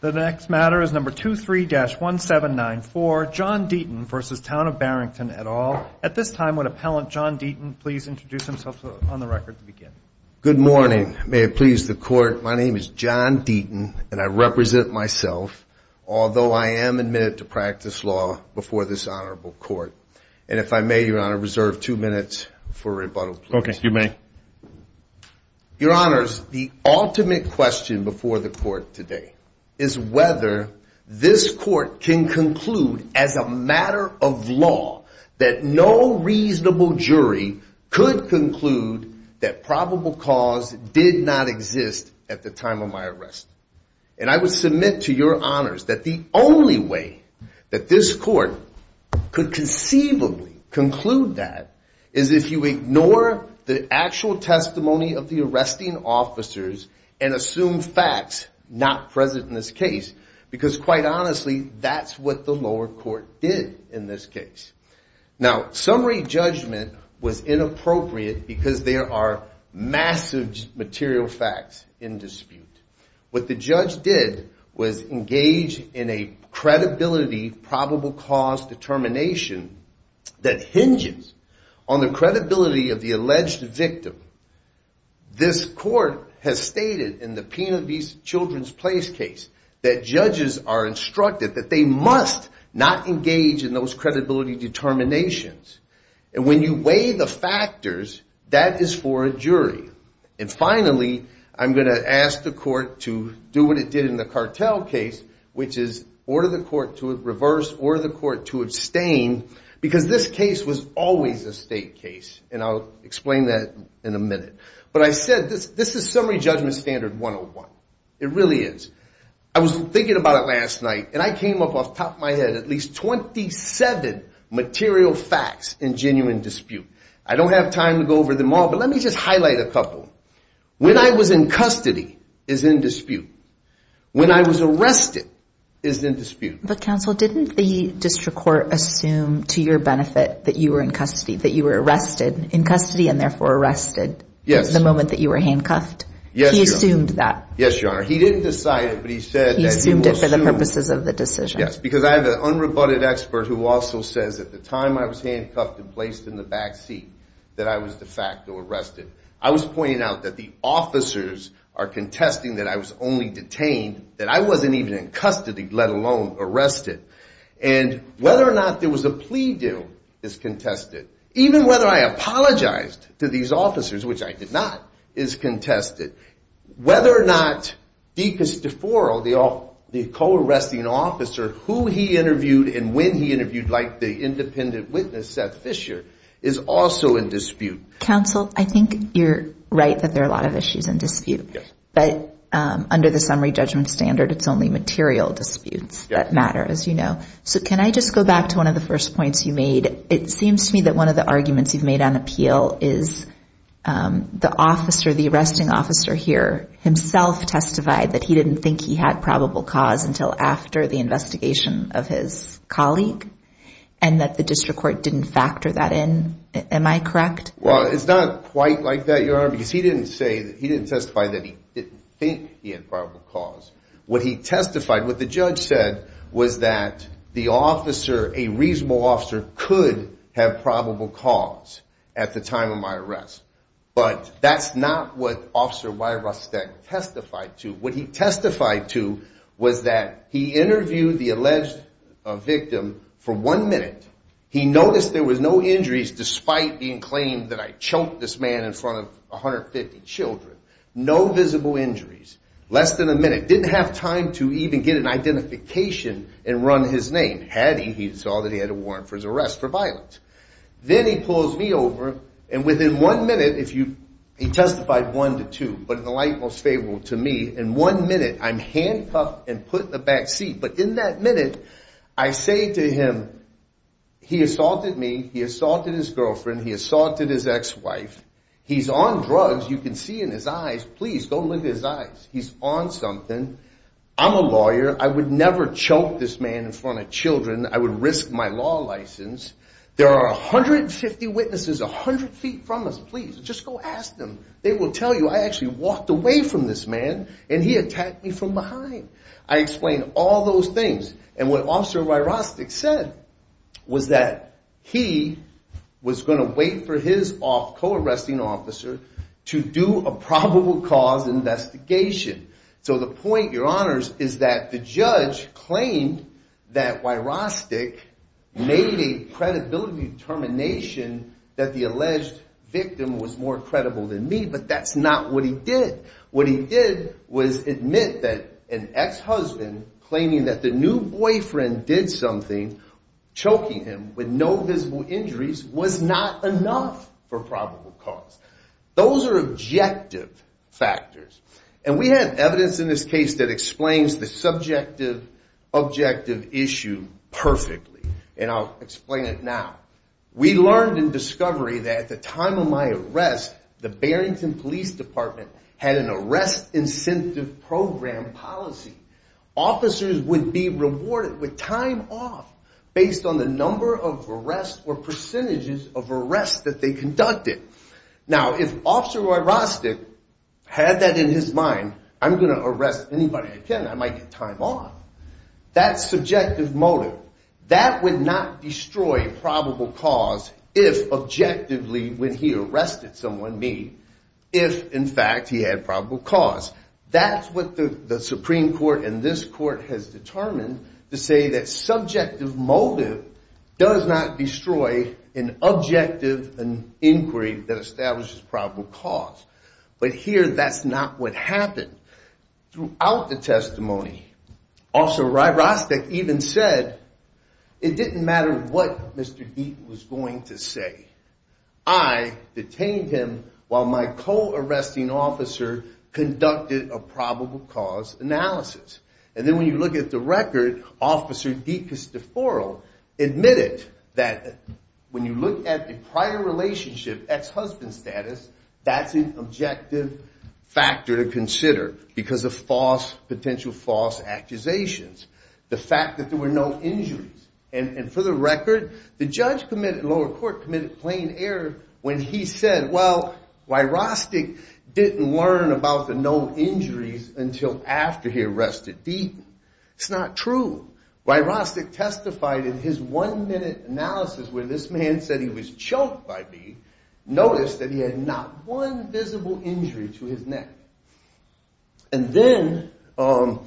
The next matter is number 23-1794, John Deaton v. Town of Barrington, et al. At this time, would Appellant John Deaton please introduce himself on the record to begin? Good morning. May it please the Court, my name is John Deaton, and I represent myself, although I am admitted to practice law before this Honorable Court. And if I may, Your Honor, reserve two minutes for rebuttal, please. Okay, you may. Your Honors, the ultimate question before the Court today is whether this Court can conclude as a matter of law that no reasonable jury could conclude that probable cause did not exist at the time of my arrest. And I would submit to Your Honors that the only way that this Court could conceivably conclude that is if you ignore the actual testimony of the arresting officers and assume facts not present in this case, because quite honestly, that's what the lower court did in this case. Now, summary judgment was inappropriate because there are massive material facts in dispute. What the judge did was engage in a credibility probable cause determination that hinges on the credibility of the alleged victim. This Court has stated in the Pena v. Children's Place case that judges are instructed that they must not engage in those credibility determinations. And when you weigh the factors, that is for a jury. And finally, I'm going to ask the Court to do what it did in the Cartel case, which is order the Court to reverse, order the Court to abstain, because this case was always a state case, and I'll explain that in a minute. But I said this is summary judgment standard 101. It really is. I was thinking about it last night, and I came up off the top of my head at least 27 material facts in genuine dispute. I don't have time to go over them all, but let me just highlight a couple. When I was in custody is in dispute. When I was arrested is in dispute. But, counsel, didn't the district court assume to your benefit that you were in custody, that you were arrested in custody and therefore arrested the moment that you were handcuffed? Yes, Your Honor. He assumed that. Yes, Your Honor. He didn't decide it, but he said that he will assume. He assumed it for the purposes of the decision. Yes, because I have an unrebutted expert who also says at the time I was handcuffed and placed in the back seat that I was de facto arrested. I was pointing out that the officers are contesting that I was only detained, that I wasn't even in custody, let alone arrested. And whether or not there was a plea deal is contested. Even whether I apologized to these officers, which I did not, is contested. Whether or not Deacus Deforo, the co-arresting officer, who he interviewed and when he interviewed, like the independent witness, Seth Fisher, is also in dispute. Counsel, I think you're right that there are a lot of issues in dispute. Yes. But under the summary judgment standard, it's only material disputes that matter, as you know. So can I just go back to one of the first points you made? It seems to me that one of the arguments you've made on appeal is the officer, the arresting officer here, himself testified that he didn't think he had probable cause until after the investigation of his colleague and that the district court didn't factor that in. Am I correct? Well, it's not quite like that, Your Honor, because he didn't testify that he didn't think he had probable cause. What he testified, what the judge said, was that the officer, a reasonable officer, could have probable cause at the time of my arrest. But that's not what Officer Wyrostek testified to. What he testified to was that he interviewed the alleged victim for one minute. He noticed there was no injuries despite being claimed that I choked this man in front of 150 children. No visible injuries. Less than a minute. Didn't have time to even get an identification and run his name. Had he, he saw that he had a warrant for his arrest for violence. Then he pulls me over, and within one minute, he testified one to two, but in the light most favorable to me, in one minute, I'm handcuffed and put in the back seat. But in that minute, I say to him, he assaulted me, he assaulted his girlfriend, he assaulted his ex-wife. He's on drugs. You can see in his eyes. Please, go look at his eyes. He's on something. I'm a lawyer. I would never choke this man in front of children. I would risk my law license. There are 150 witnesses 100 feet from us. Please, just go ask them. They will tell you I actually walked away from this man, and he attacked me from behind. I explained all those things. And what Officer Wyrostek said was that he was going to wait for his co-arresting officer to do a probable cause investigation. So the point, your honors, is that the judge claimed that Wyrostek made a credibility determination that the alleged victim was more credible than me, but that's not what he did. What he did was admit that an ex-husband claiming that the new boyfriend did something choking him with no visible injuries was not enough for probable cause. Those are objective factors. And we have evidence in this case that explains the subjective objective issue perfectly. And I'll explain it now. We learned in discovery that at the time of my arrest, the Barrington Police Department had an arrest incentive program policy. Officers would be rewarded with time off based on the number of arrests or percentages of arrests that they conducted. Now, if Officer Wyrostek had that in his mind, I'm going to arrest anybody I can. I might get time off. That's subjective motive. That would not destroy probable cause if objectively when he arrested someone, me, if in fact he had probable cause. That's what the Supreme Court and this court has determined to say that subjective motive does not destroy an objective inquiry that establishes probable cause. But here, that's not what happened. Throughout the testimony, Officer Wyrostek even said it didn't matter what Mr. Deaton was going to say. I detained him while my co-arresting officer conducted a probable cause analysis. And then when you look at the record, Officer DeCosteforo admitted that when you look at the prior relationship, ex-husband status, that's an objective factor to consider because of false, potential false accusations. The fact that there were no injuries. And for the record, the judge in lower court committed plain error when he said, well, Wyrostek didn't learn about the known injuries until after he arrested Deaton. It's not true. Wyrostek testified in his one-minute analysis where this man said he was choked by me, noticed that he had not one visible injury to his neck. And then Officer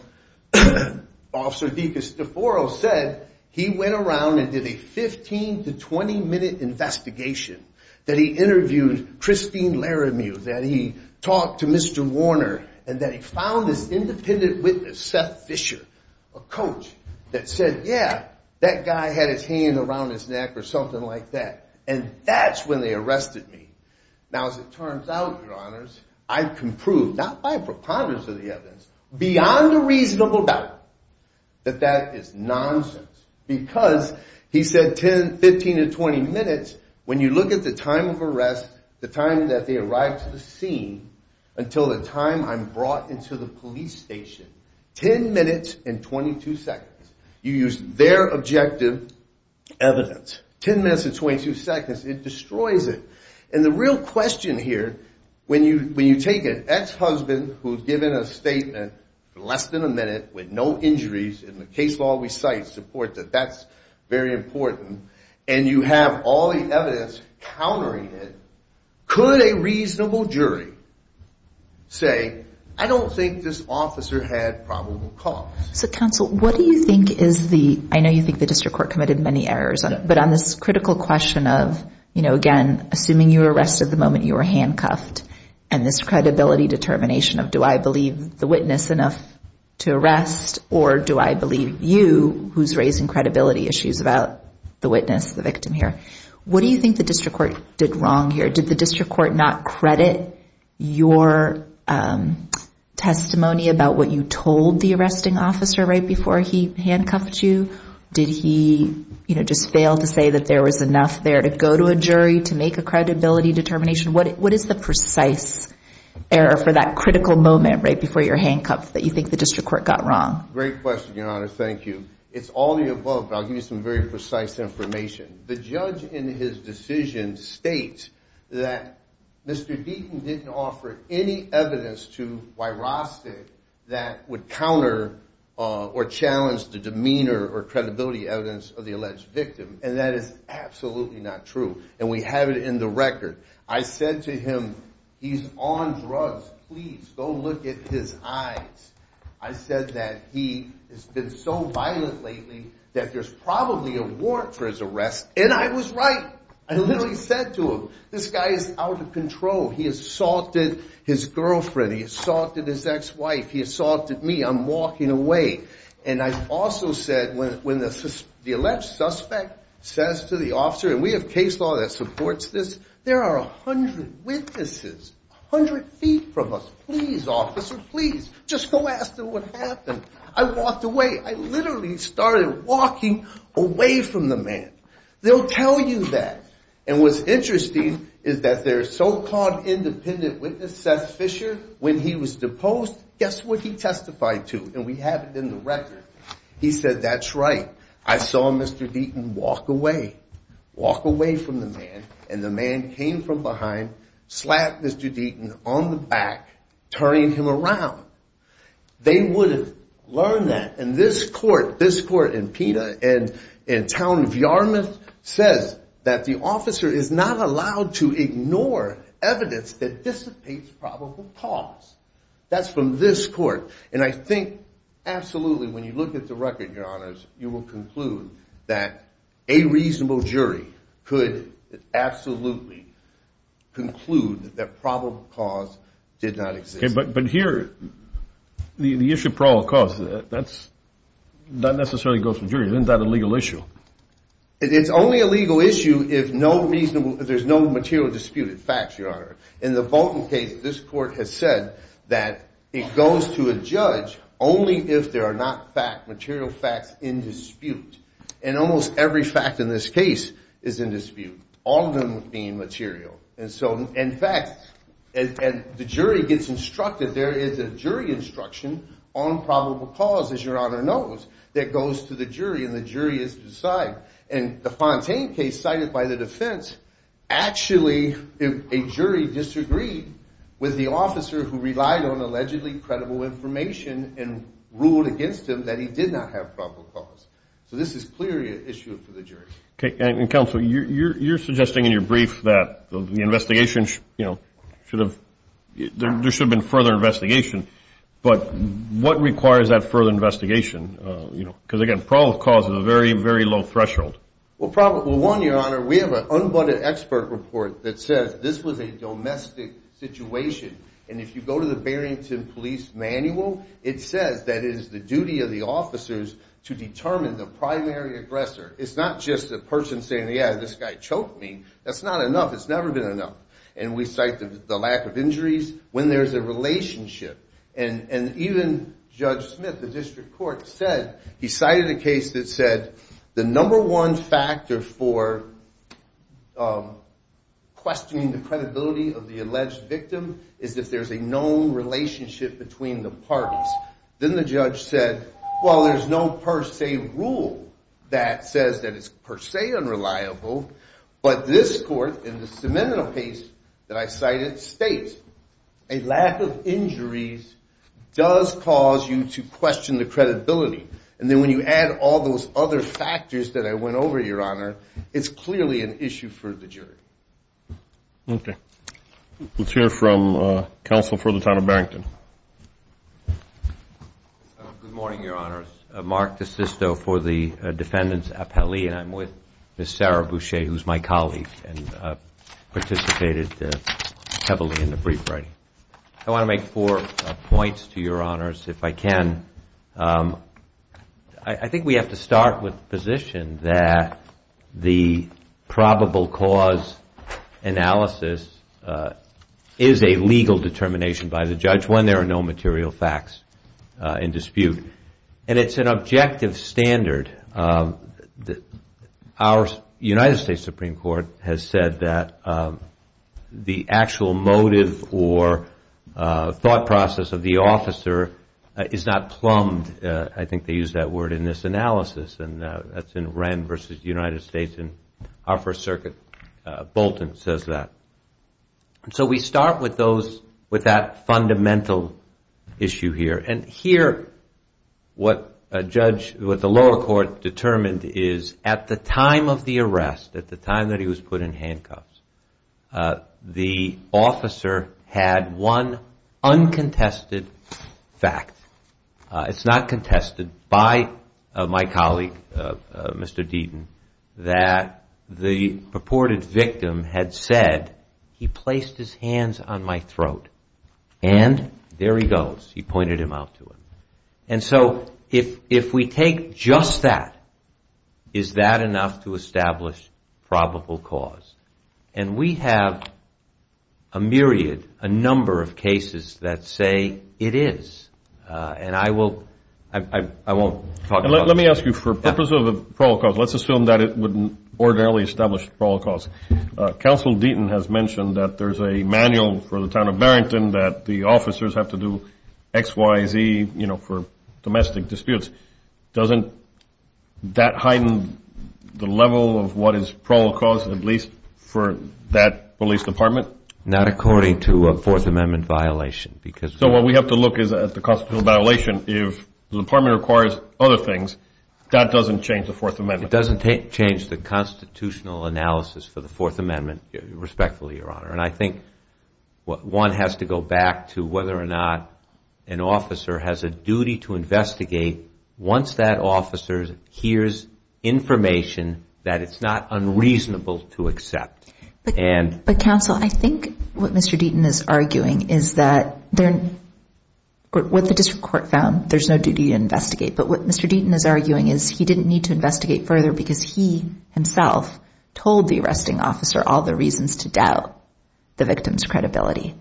DeCosteforo said he went around and did a 15 to 20-minute investigation, that he interviewed Christine Laramieux, that he talked to Mr. Warner, and that he found this independent witness, Seth Fisher, a coach, that said, yeah, that guy had his hand around his neck or something like that. And that's when they arrested me. Now, as it turns out, Your Honors, I can prove, not by preponderance of the evidence, beyond a reasonable doubt, that that is nonsense. Because he said 10, 15 to 20 minutes, when you look at the time of arrest, the time that they arrived to the scene, until the time I'm brought into the police station, 10 minutes and 22 seconds. You use their objective evidence. 10 minutes and 22 seconds. It destroys it. And the real question here, when you take an ex-husband who's given a statement for less than a minute with no injuries, and the case law recites support that that's very important, and you have all the evidence countering it, could a reasonable jury say, I don't think this officer had probable cause? So, counsel, what do you think is the, I know you think the district court committed many errors, but on this critical question of, you know, again, assuming you were arrested the moment you were handcuffed, and this credibility determination of do I believe the witness enough to arrest, or do I believe you, who's raising credibility issues about the witness, the victim here, what do you think the district court did wrong here? Did the district court not credit your testimony about what you told the arresting officer right before he handcuffed you? Did he, you know, just fail to say that there was enough there to go to a jury to make a credibility determination? What is the precise error for that critical moment right before you're handcuffed that you think the district court got wrong? Great question, Your Honor. Thank you. It's all of the above, but I'll give you some very precise information. The judge in his decision states that Mr. Deaton didn't offer any evidence to Wyrostek that would counter or challenge the demeanor or credibility evidence of the alleged victim, and that is absolutely not true. And we have it in the record. I said to him, he's on drugs. Please go look at his eyes. I said that he has been so violent lately that there's probably a warrant for his arrest, and I was right. I literally said to him, this guy is out of control. He assaulted his girlfriend. He assaulted his ex-wife. He assaulted me. I'm walking away. And I also said when the alleged suspect says to the officer, and we have case law that supports this, there are 100 witnesses 100 feet from us. Please, officer, please, just go ask them what happened. I walked away. I literally started walking away from the man. They'll tell you that. And what's interesting is that their so-called independent witness, Seth Fisher, when he was deposed, guess what he testified to? And we have it in the record. He said, that's right. I saw Mr. Deaton walk away. Walk away from the man, and the man came from behind, slapped Mr. Deaton on the back, turning him around. They would have learned that. And this court, this court in PETA, in town of Yarmouth, says that the officer is not allowed to ignore evidence that dissipates probable cause. That's from this court. And I think absolutely when you look at the record, Your Honors, you will conclude that a reasonable jury could absolutely conclude that probable cause did not exist. But here, the issue of probable cause, that's not necessarily goes to the jury. Isn't that a legal issue? It's only a legal issue if there's no material dispute. It's facts, Your Honor. In the Bolton case, this court has said that it goes to a judge only if there are not fact, material facts in dispute. And almost every fact in this case is in dispute, all of them being material. And so, in fact, the jury gets instructed, there is a jury instruction on probable cause, as Your Honor knows, that goes to the jury, and the jury is to decide. And the Fontaine case cited by the defense, actually a jury disagreed with the officer who relied on allegedly credible information and ruled against him that he did not have probable cause. So this is clearly an issue for the jury. Okay. And Counsel, you're suggesting in your brief that the investigation, you know, should have, there should have been further investigation. But what requires that further investigation, you know, because again, probable cause is a very, very low threshold. Well, one, Your Honor, we have an unbudded expert report that says this was a domestic situation. And if you go to the Barrington Police Manual, it says that it is the duty of the officers to determine the primary aggressor. It's not just a person saying, yeah, this guy choked me. That's not enough. It's never been enough. And we cite the lack of injuries when there's a relationship. And even Judge Smith, the district court, said, he cited a case that said the number one factor for questioning the credibility of the alleged victim is if there's a known relationship between the parties. Then the judge said, well, there's no per se rule that says that it's per se unreliable. But this court, in the submittal case that I cited, states a lack of injuries does cause you to question the credibility. And then when you add all those other factors that I went over, Your Honor, it's clearly an issue for the jury. Okay. Let's hear from counsel for the town of Barrington. Good morning, Your Honors. Mark DeSisto for the defendants' appellee. And I'm with Ms. Sarah Boucher, who's my colleague and participated heavily in the brief writing. I want to make four points to Your Honors, if I can. I think we have to start with the position that the probable cause analysis is a legal determination by the judge when there are no material facts in dispute. And it's an objective standard. Our United States Supreme Court has said that the actual motive or thought process of the officer is not plumbed. I think they use that word in this analysis. And that's in Wren v. United States. And our First Circuit, Bolton, says that. So we start with that fundamental issue here. And here, what the lower court determined is at the time of the arrest, at the time that he was put in handcuffs, the officer had one uncontested fact. It's not contested by my colleague, Mr. Deaton, that the purported victim had said, he placed his hands on my throat. And there he goes. He pointed them out to him. And so if we take just that, is that enough to establish probable cause? And we have a myriad, a number of cases that say it is. And I won't talk about it. Let me ask you, for the purpose of a prologue, let's assume that it wouldn't ordinarily establish a prologue. Counsel Deaton has mentioned that there's a manual for the town of Barrington that the officers have to do X, Y, Z, you know, for domestic disputes. Doesn't that heighten the level of what is probable cause, at least for that police department? Not according to a Fourth Amendment violation. So what we have to look is at the constitutional violation. If the department requires other things, that doesn't change the Fourth Amendment. It doesn't change the constitutional analysis for the Fourth Amendment, respectfully, Your Honor. And I think one has to go back to whether or not an officer has a duty to investigate once that officer hears information that it's not unreasonable to accept. But, Counsel, I think what Mr. Deaton is arguing is that what the district court found, there's no duty to investigate. But what Mr. Deaton is arguing is he didn't need to investigate further because he, himself, told the arresting officer all the reasons to doubt the victim's credibility.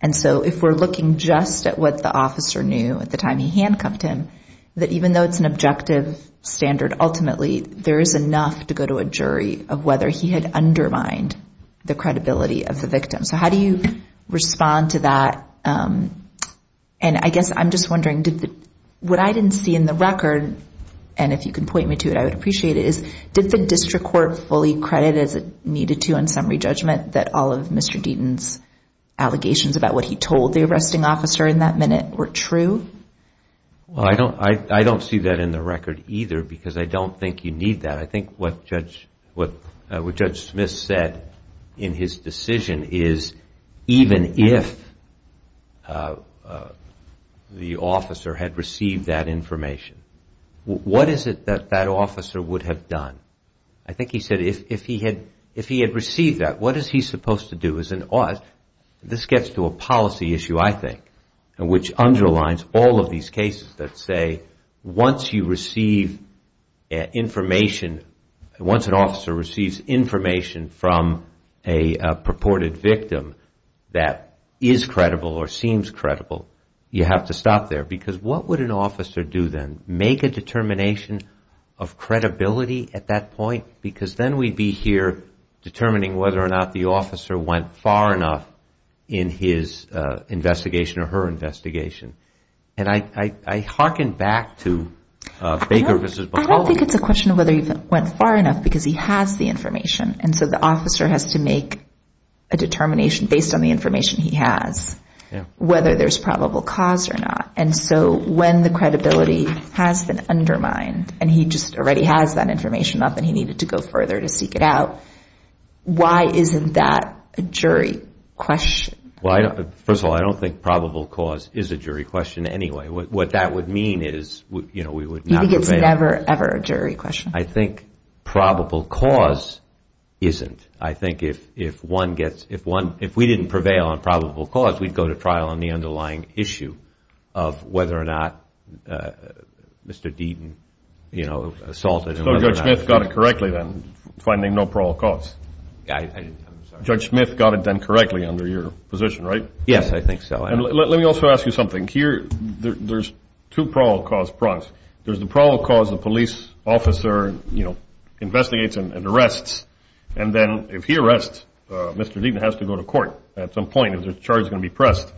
And so if we're looking just at what the officer knew at the time he handcuffed him, that even though it's an objective standard, ultimately, there is enough to go to a jury of whether he had undermined the credibility of the victim. So how do you respond to that? And I guess I'm just wondering, what I didn't see in the record, and if you can point me to it, I would appreciate it, is did the district court fully credit as it needed to on summary judgment that all of Mr. Deaton's allegations about what he told the arresting officer in that minute were true? Well, I don't see that in the record either because I don't think you need that. I think what Judge Smith said in his decision is even if the officer had received that information, what is it that that officer would have done? I think he said if he had received that, what is he supposed to do? This gets to a policy issue, I think, which underlines all of these cases that say, once you receive information, once an officer receives information from a purported victim that is credible or seems credible, you have to stop there. Because what would an officer do then? Make a determination of credibility at that point? Because then we'd be here determining whether or not the officer went far enough in his investigation or her investigation. And I hearken back to Baker v. McCullough. I don't think it's a question of whether he went far enough because he has the information. And so the officer has to make a determination based on the information he has, whether there's probable cause or not. And so when the credibility has been undermined and he just already has that information up and he needed to go further to seek it out, why isn't that a jury question? First of all, I don't think probable cause is a jury question anyway. What that would mean is we would not prevail. You think it's never, ever a jury question? I think probable cause isn't. I think if we didn't prevail on probable cause, we'd go to trial on the underlying issue of whether or not Mr. Deaton assaulted. So Judge Smith got it correctly then, finding no probable cause. Judge Smith got it done correctly under your position, right? Yes, I think so. And let me also ask you something. Here there's two probable cause prongs. There's the probable cause the police officer, you know, investigates and arrests. And then if he arrests, Mr. Deaton has to go to court at some point if the charge is going to be pressed.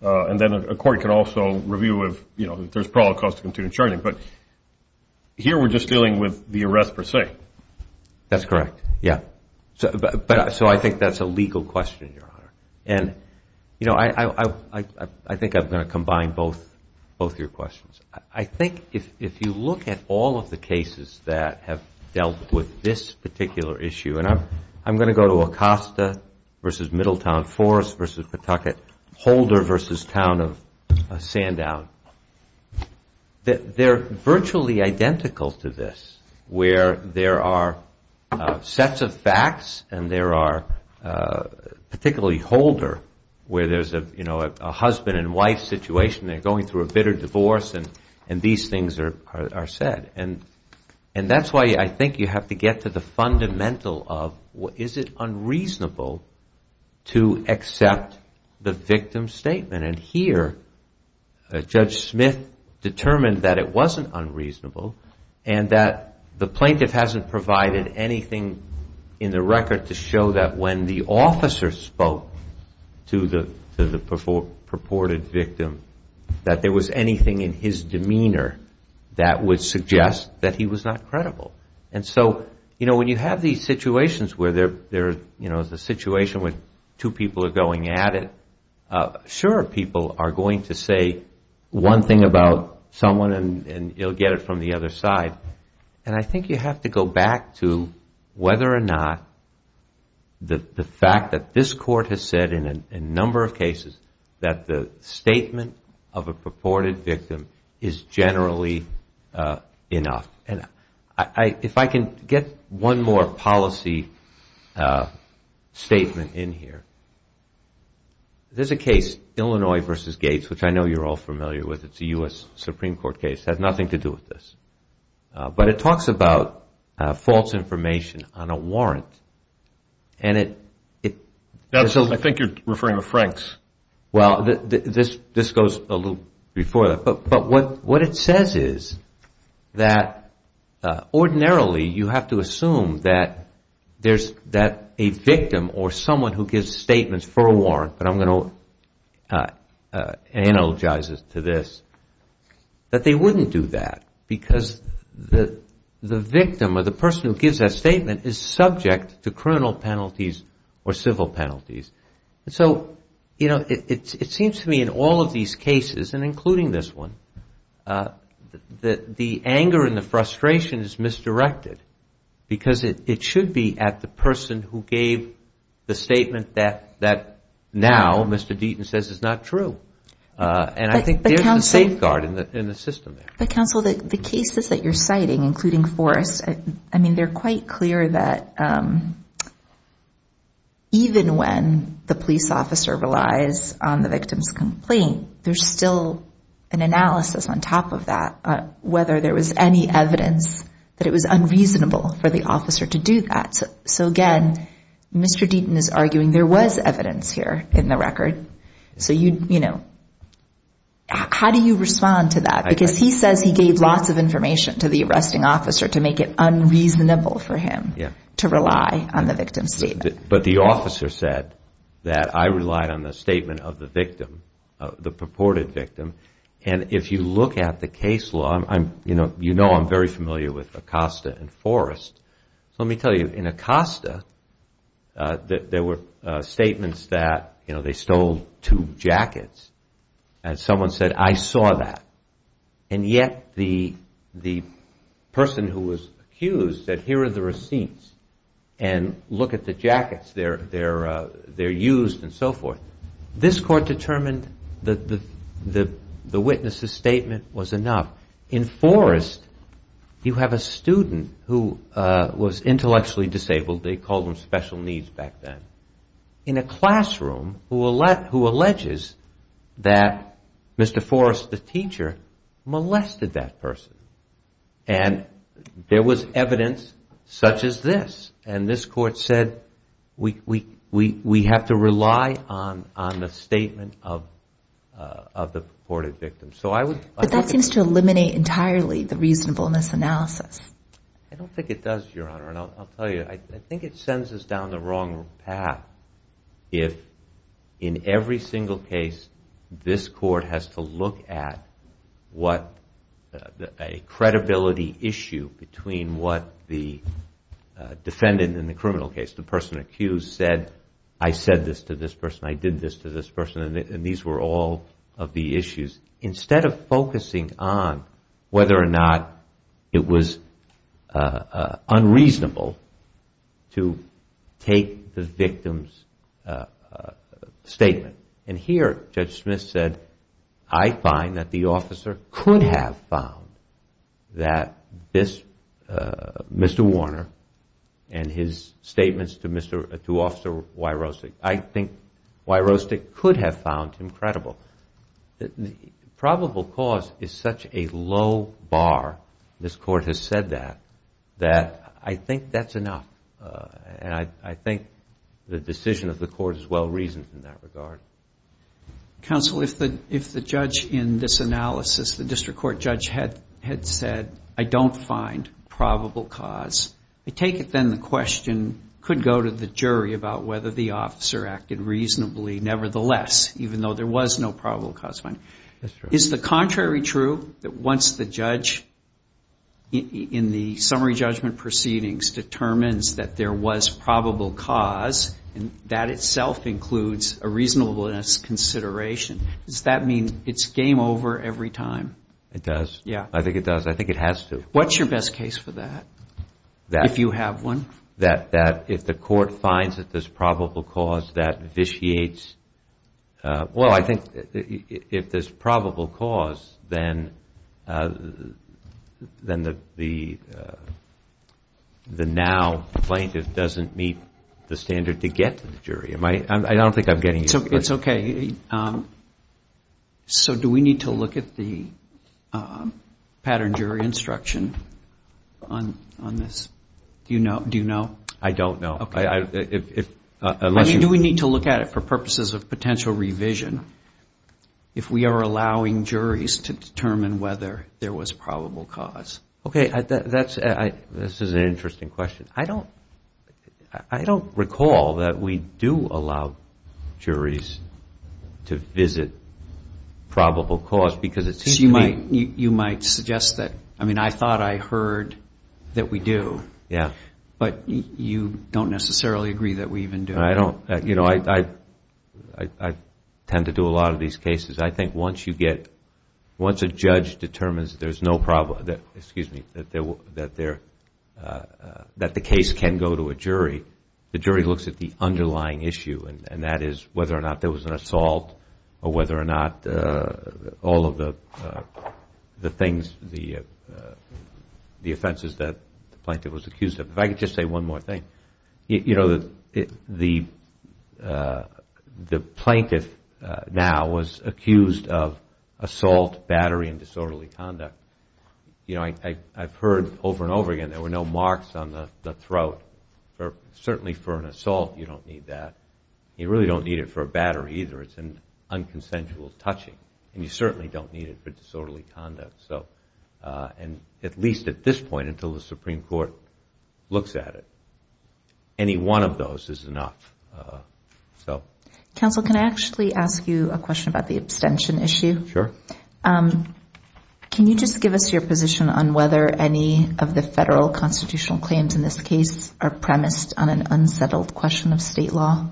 And then a court can also review if, you know, there's probable cause to continue charging. But here we're just dealing with the arrest per se. Right. That's correct. Yeah. So I think that's a legal question, Your Honor. And, you know, I think I'm going to combine both your questions. I think if you look at all of the cases that have dealt with this particular issue, and I'm going to go to Acosta versus Middletown Forest versus Pawtucket, Holder versus town of Sandown, they're virtually identical to this where there are sets of facts and there are particularly Holder where there's, you know, a husband and wife situation. They're going through a bitter divorce and these things are said. And that's why I think you have to get to the fundamental of is it unreasonable to accept the victim's statement? And here Judge Smith determined that it wasn't unreasonable and that the plaintiff hasn't provided anything in the record to show that when the officer spoke to the purported victim that there was anything in his demeanor that would suggest that he was not credible. And so, you know, when you have these situations where there's a situation where two people are going at it, sure people are going to say one thing about someone and you'll get it from the other side. And I think you have to go back to whether or not the fact that this court has said in a number of cases that the statement of a purported victim is generally enough. If I can get one more policy statement in here. There's a case, Illinois v. Gates, which I know you're all familiar with. It's a U.S. Supreme Court case. It has nothing to do with this. But it talks about false information on a warrant and it... I think you're referring to Frank's. Well, this goes a little before that. But what it says is that ordinarily you have to assume that a victim or someone who gives statements for a warrant, but I'm going to analogize this to this, that they wouldn't do that because the victim or the person who gives that statement is subject to criminal penalties or civil penalties. And so, you know, it seems to me in all of these cases, and including this one, that the anger and the frustration is misdirected because it should be at the person who gave the statement that now Mr. Deaton says is not true. And I think there's a safeguard in the system there. But, counsel, the cases that you're citing, including Forrest, I mean, they're quite clear that even when the police officer relies on the victim's complaint, there's still an analysis on top of that whether there was any evidence that it was unreasonable for the officer to do that. So, again, Mr. Deaton is arguing there was evidence here in the record. So, you know, how do you respond to that? Because he says he gave lots of information to the arresting officer to make it unreasonable for him to rely on the victim's statement. But the officer said that I relied on the statement of the victim, the purported victim. And if you look at the case law, you know I'm very familiar with Acosta and Forrest. So let me tell you, in Acosta, there were statements that, you know, they stole two jackets and someone said I saw that. And yet the person who was accused said here are the receipts and look at the jackets. They're used and so forth. This court determined that the witness's statement was enough. In Forrest, you have a student who was intellectually disabled, they called them special needs back then, in a classroom who alleges that Mr. Forrest, the teacher, molested that person. And there was evidence such as this. And this court said we have to rely on the statement of the purported victim. But that seems to eliminate entirely the reasonableness analysis. I don't think it does, Your Honor. And I'll tell you, I think it sends us down the wrong path. If in every single case this court has to look at what a credibility issue between what the defendant in the criminal case, the person accused, said I said this to this person, I did this to this person, and these were all of the issues, instead of focusing on whether or not it was unreasonable to take the victim's statement. And here Judge Smith said I find that the officer could have found that this Mr. Warner and his statements to Officer Wyrostek, I think Wyrostek could have found him credible. Probable cause is such a low bar, this court has said that, that I think that's enough. And I think the decision of the court is well-reasoned in that regard. Counsel, if the judge in this analysis, the district court judge had said I don't find probable cause, I take it then the question could go to the jury about whether the officer acted reasonably nevertheless, even though there was no probable cause finding. That's true. Is the contrary true, that once the judge in the summary judgment proceedings determines that there was probable cause, that itself includes a reasonableness consideration? Does that mean it's game over every time? It does. I think it does. I think it has to. What's your best case for that, if you have one? That if the court finds that there's probable cause, that vitiates. Well, I think if there's probable cause, then the now plaintiff doesn't meet the standard to get to the jury. I don't think I'm getting your question. It's okay. So do we need to look at the pattern jury instruction on this? Do you know? I don't know. I mean, do we need to look at it for purposes of potential revision, if we are allowing juries to determine whether there was probable cause? Okay. This is an interesting question. I don't recall that we do allow juries to visit probable cause because it seems to me. You might suggest that. I mean, I thought I heard that we do. Yeah. But you don't necessarily agree that we even do. I don't. You know, I tend to do a lot of these cases. I think once you get, once a judge determines there's no probable, excuse me, that the case can go to a jury, the jury looks at the underlying issue, and that is whether or not there was an assault or whether or not all of the things, the offenses that the plaintiff was accused of. If I could just say one more thing. You know, the plaintiff now was accused of assault, battery, and disorderly conduct. You know, I've heard over and over again there were no marks on the throat. Certainly for an assault, you don't need that. You really don't need it for a battery either. It's an unconsensual touching, and you certainly don't need it for disorderly conduct. And at least at this point, until the Supreme Court looks at it, any one of those is enough. Counsel, can I actually ask you a question about the abstention issue? Sure. Can you just give us your position on whether any of the federal constitutional claims in this case are premised on an unsettled question of state law?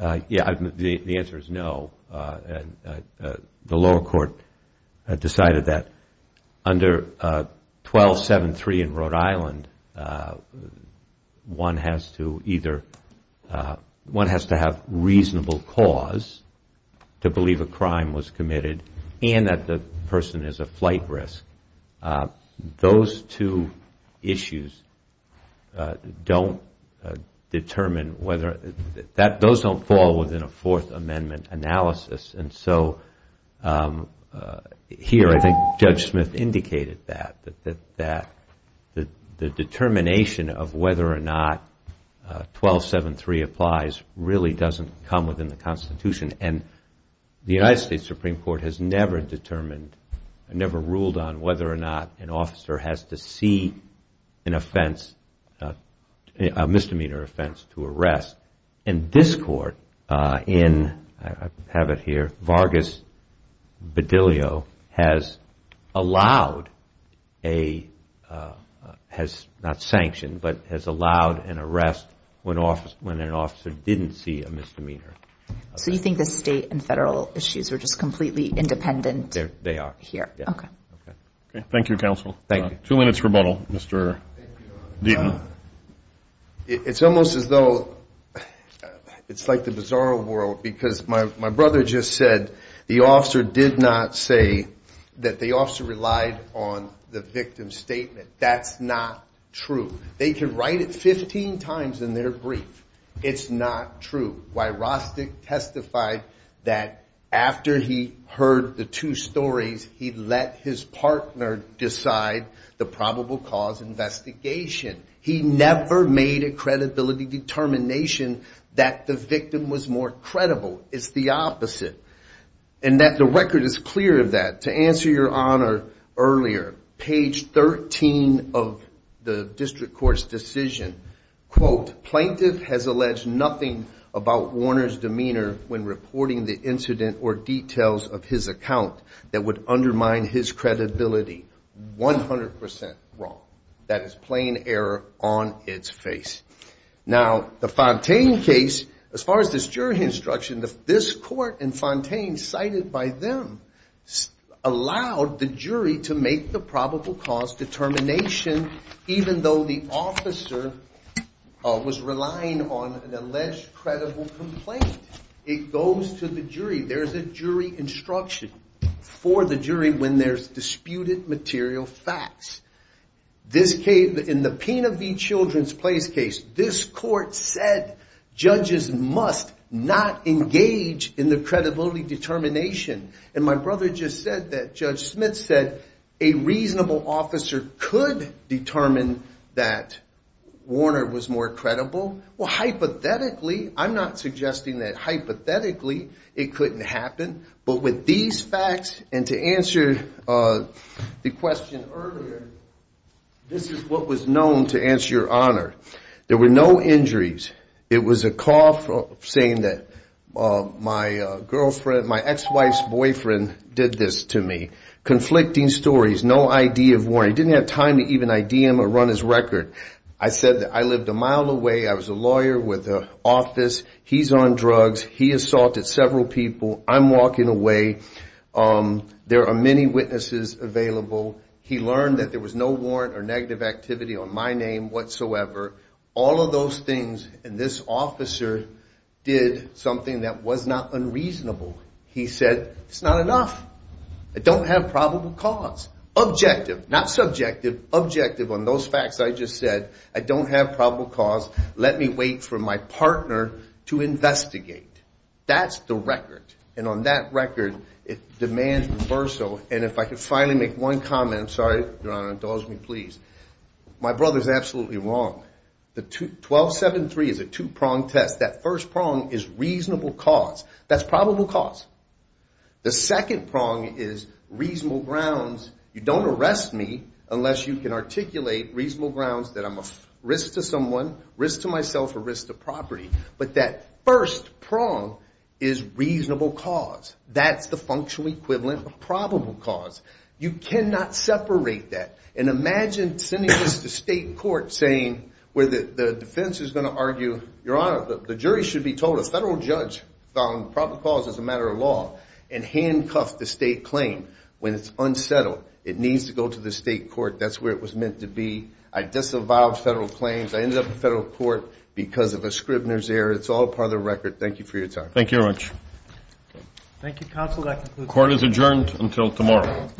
Yeah, the answer is no. The lower court decided that under 1273 in Rhode Island, one has to either have reasonable cause to believe a crime was committed and that the person is a flight risk. Those two issues don't determine whether those don't fall within a Fourth Amendment analysis. And so here, I think Judge Smith indicated that, that the determination of whether or not 1273 applies really doesn't come within the Constitution. And the United States Supreme Court has never determined, never ruled on whether or not an officer has to see an offense, a misdemeanor offense to arrest. And this court in, I have it here, Vargas Bedillo has allowed a, has not sanctioned, but has allowed an arrest when an officer didn't see a misdemeanor offense. So you think the state and federal issues are just completely independent? They are. Here. Okay. Thank you, counsel. Two minutes rebuttal, Mr. Deaton. It's almost as though it's like the bizarro world because my brother just said the officer did not say that the officer relied on the victim's statement. That's not true. They can write it 15 times in their brief. It's not true. Why, Rostick testified that after he heard the two stories, he let his partner decide the probable cause investigation. He never made a credibility determination that the victim was more credible. It's the opposite. And that the record is clear of that. To answer your honor earlier, page 13 of the district court's decision, quote, plaintiff has alleged nothing about Warner's demeanor when reporting the incident or details of his account that would undermine his credibility. One hundred percent wrong. That is plain error on its face. Now, the Fontaine case, as far as this jury instruction, this court and Fontaine cited by them allowed the jury to make the probable cause determination even though the officer was relying on an alleged credible complaint. It goes to the jury. There's a jury instruction for the jury when there's disputed material facts. In the Pena v. Children's Place case, this court said judges must not engage in the credibility determination. And my brother just said that Judge Smith said a reasonable officer could determine that Warner was more credible. Well, hypothetically, I'm not suggesting that hypothetically it couldn't happen. But with these facts and to answer the question earlier, this is what was known to answer your honor. There were no injuries. It was a call saying that my girlfriend, my ex-wife's boyfriend did this to me. Conflicting stories. No ID of Warner. He didn't have time to even ID him or run his record. I said that I lived a mile away. I was a lawyer with an office. He's on drugs. He assaulted several people. I'm walking away. There are many witnesses available. He learned that there was no warrant or negative activity on my name whatsoever. All of those things and this officer did something that was not unreasonable. He said it's not enough. I don't have probable cause. Objective. Not subjective. Objective on those facts I just said. I don't have probable cause. Let me wait for my partner to investigate. That's the record. And on that record, it demands reversal. And if I could finally make one comment. I'm sorry, your honor. Indulge me, please. My brother's absolutely wrong. The 1273 is a two-pronged test. That first prong is reasonable cause. That's probable cause. The second prong is reasonable grounds. You don't arrest me unless you can articulate reasonable grounds that I'm a risk to someone, risk to myself, or risk to property. But that first prong is reasonable cause. That's the functional equivalent of probable cause. You cannot separate that. And imagine sending this to state court saying where the defense is going to argue, your honor, the jury should be told a federal judge found probable cause as a matter of law and handcuffed the state claim when it's unsettled. It needs to go to the state court. That's where it was meant to be. I disavowed federal claims. I ended up in federal court because of a Scribner's error. It's all part of the record. Thank you for your time. Thank you very much. Thank you, counsel. That concludes the hearing. Court is adjourned until tomorrow.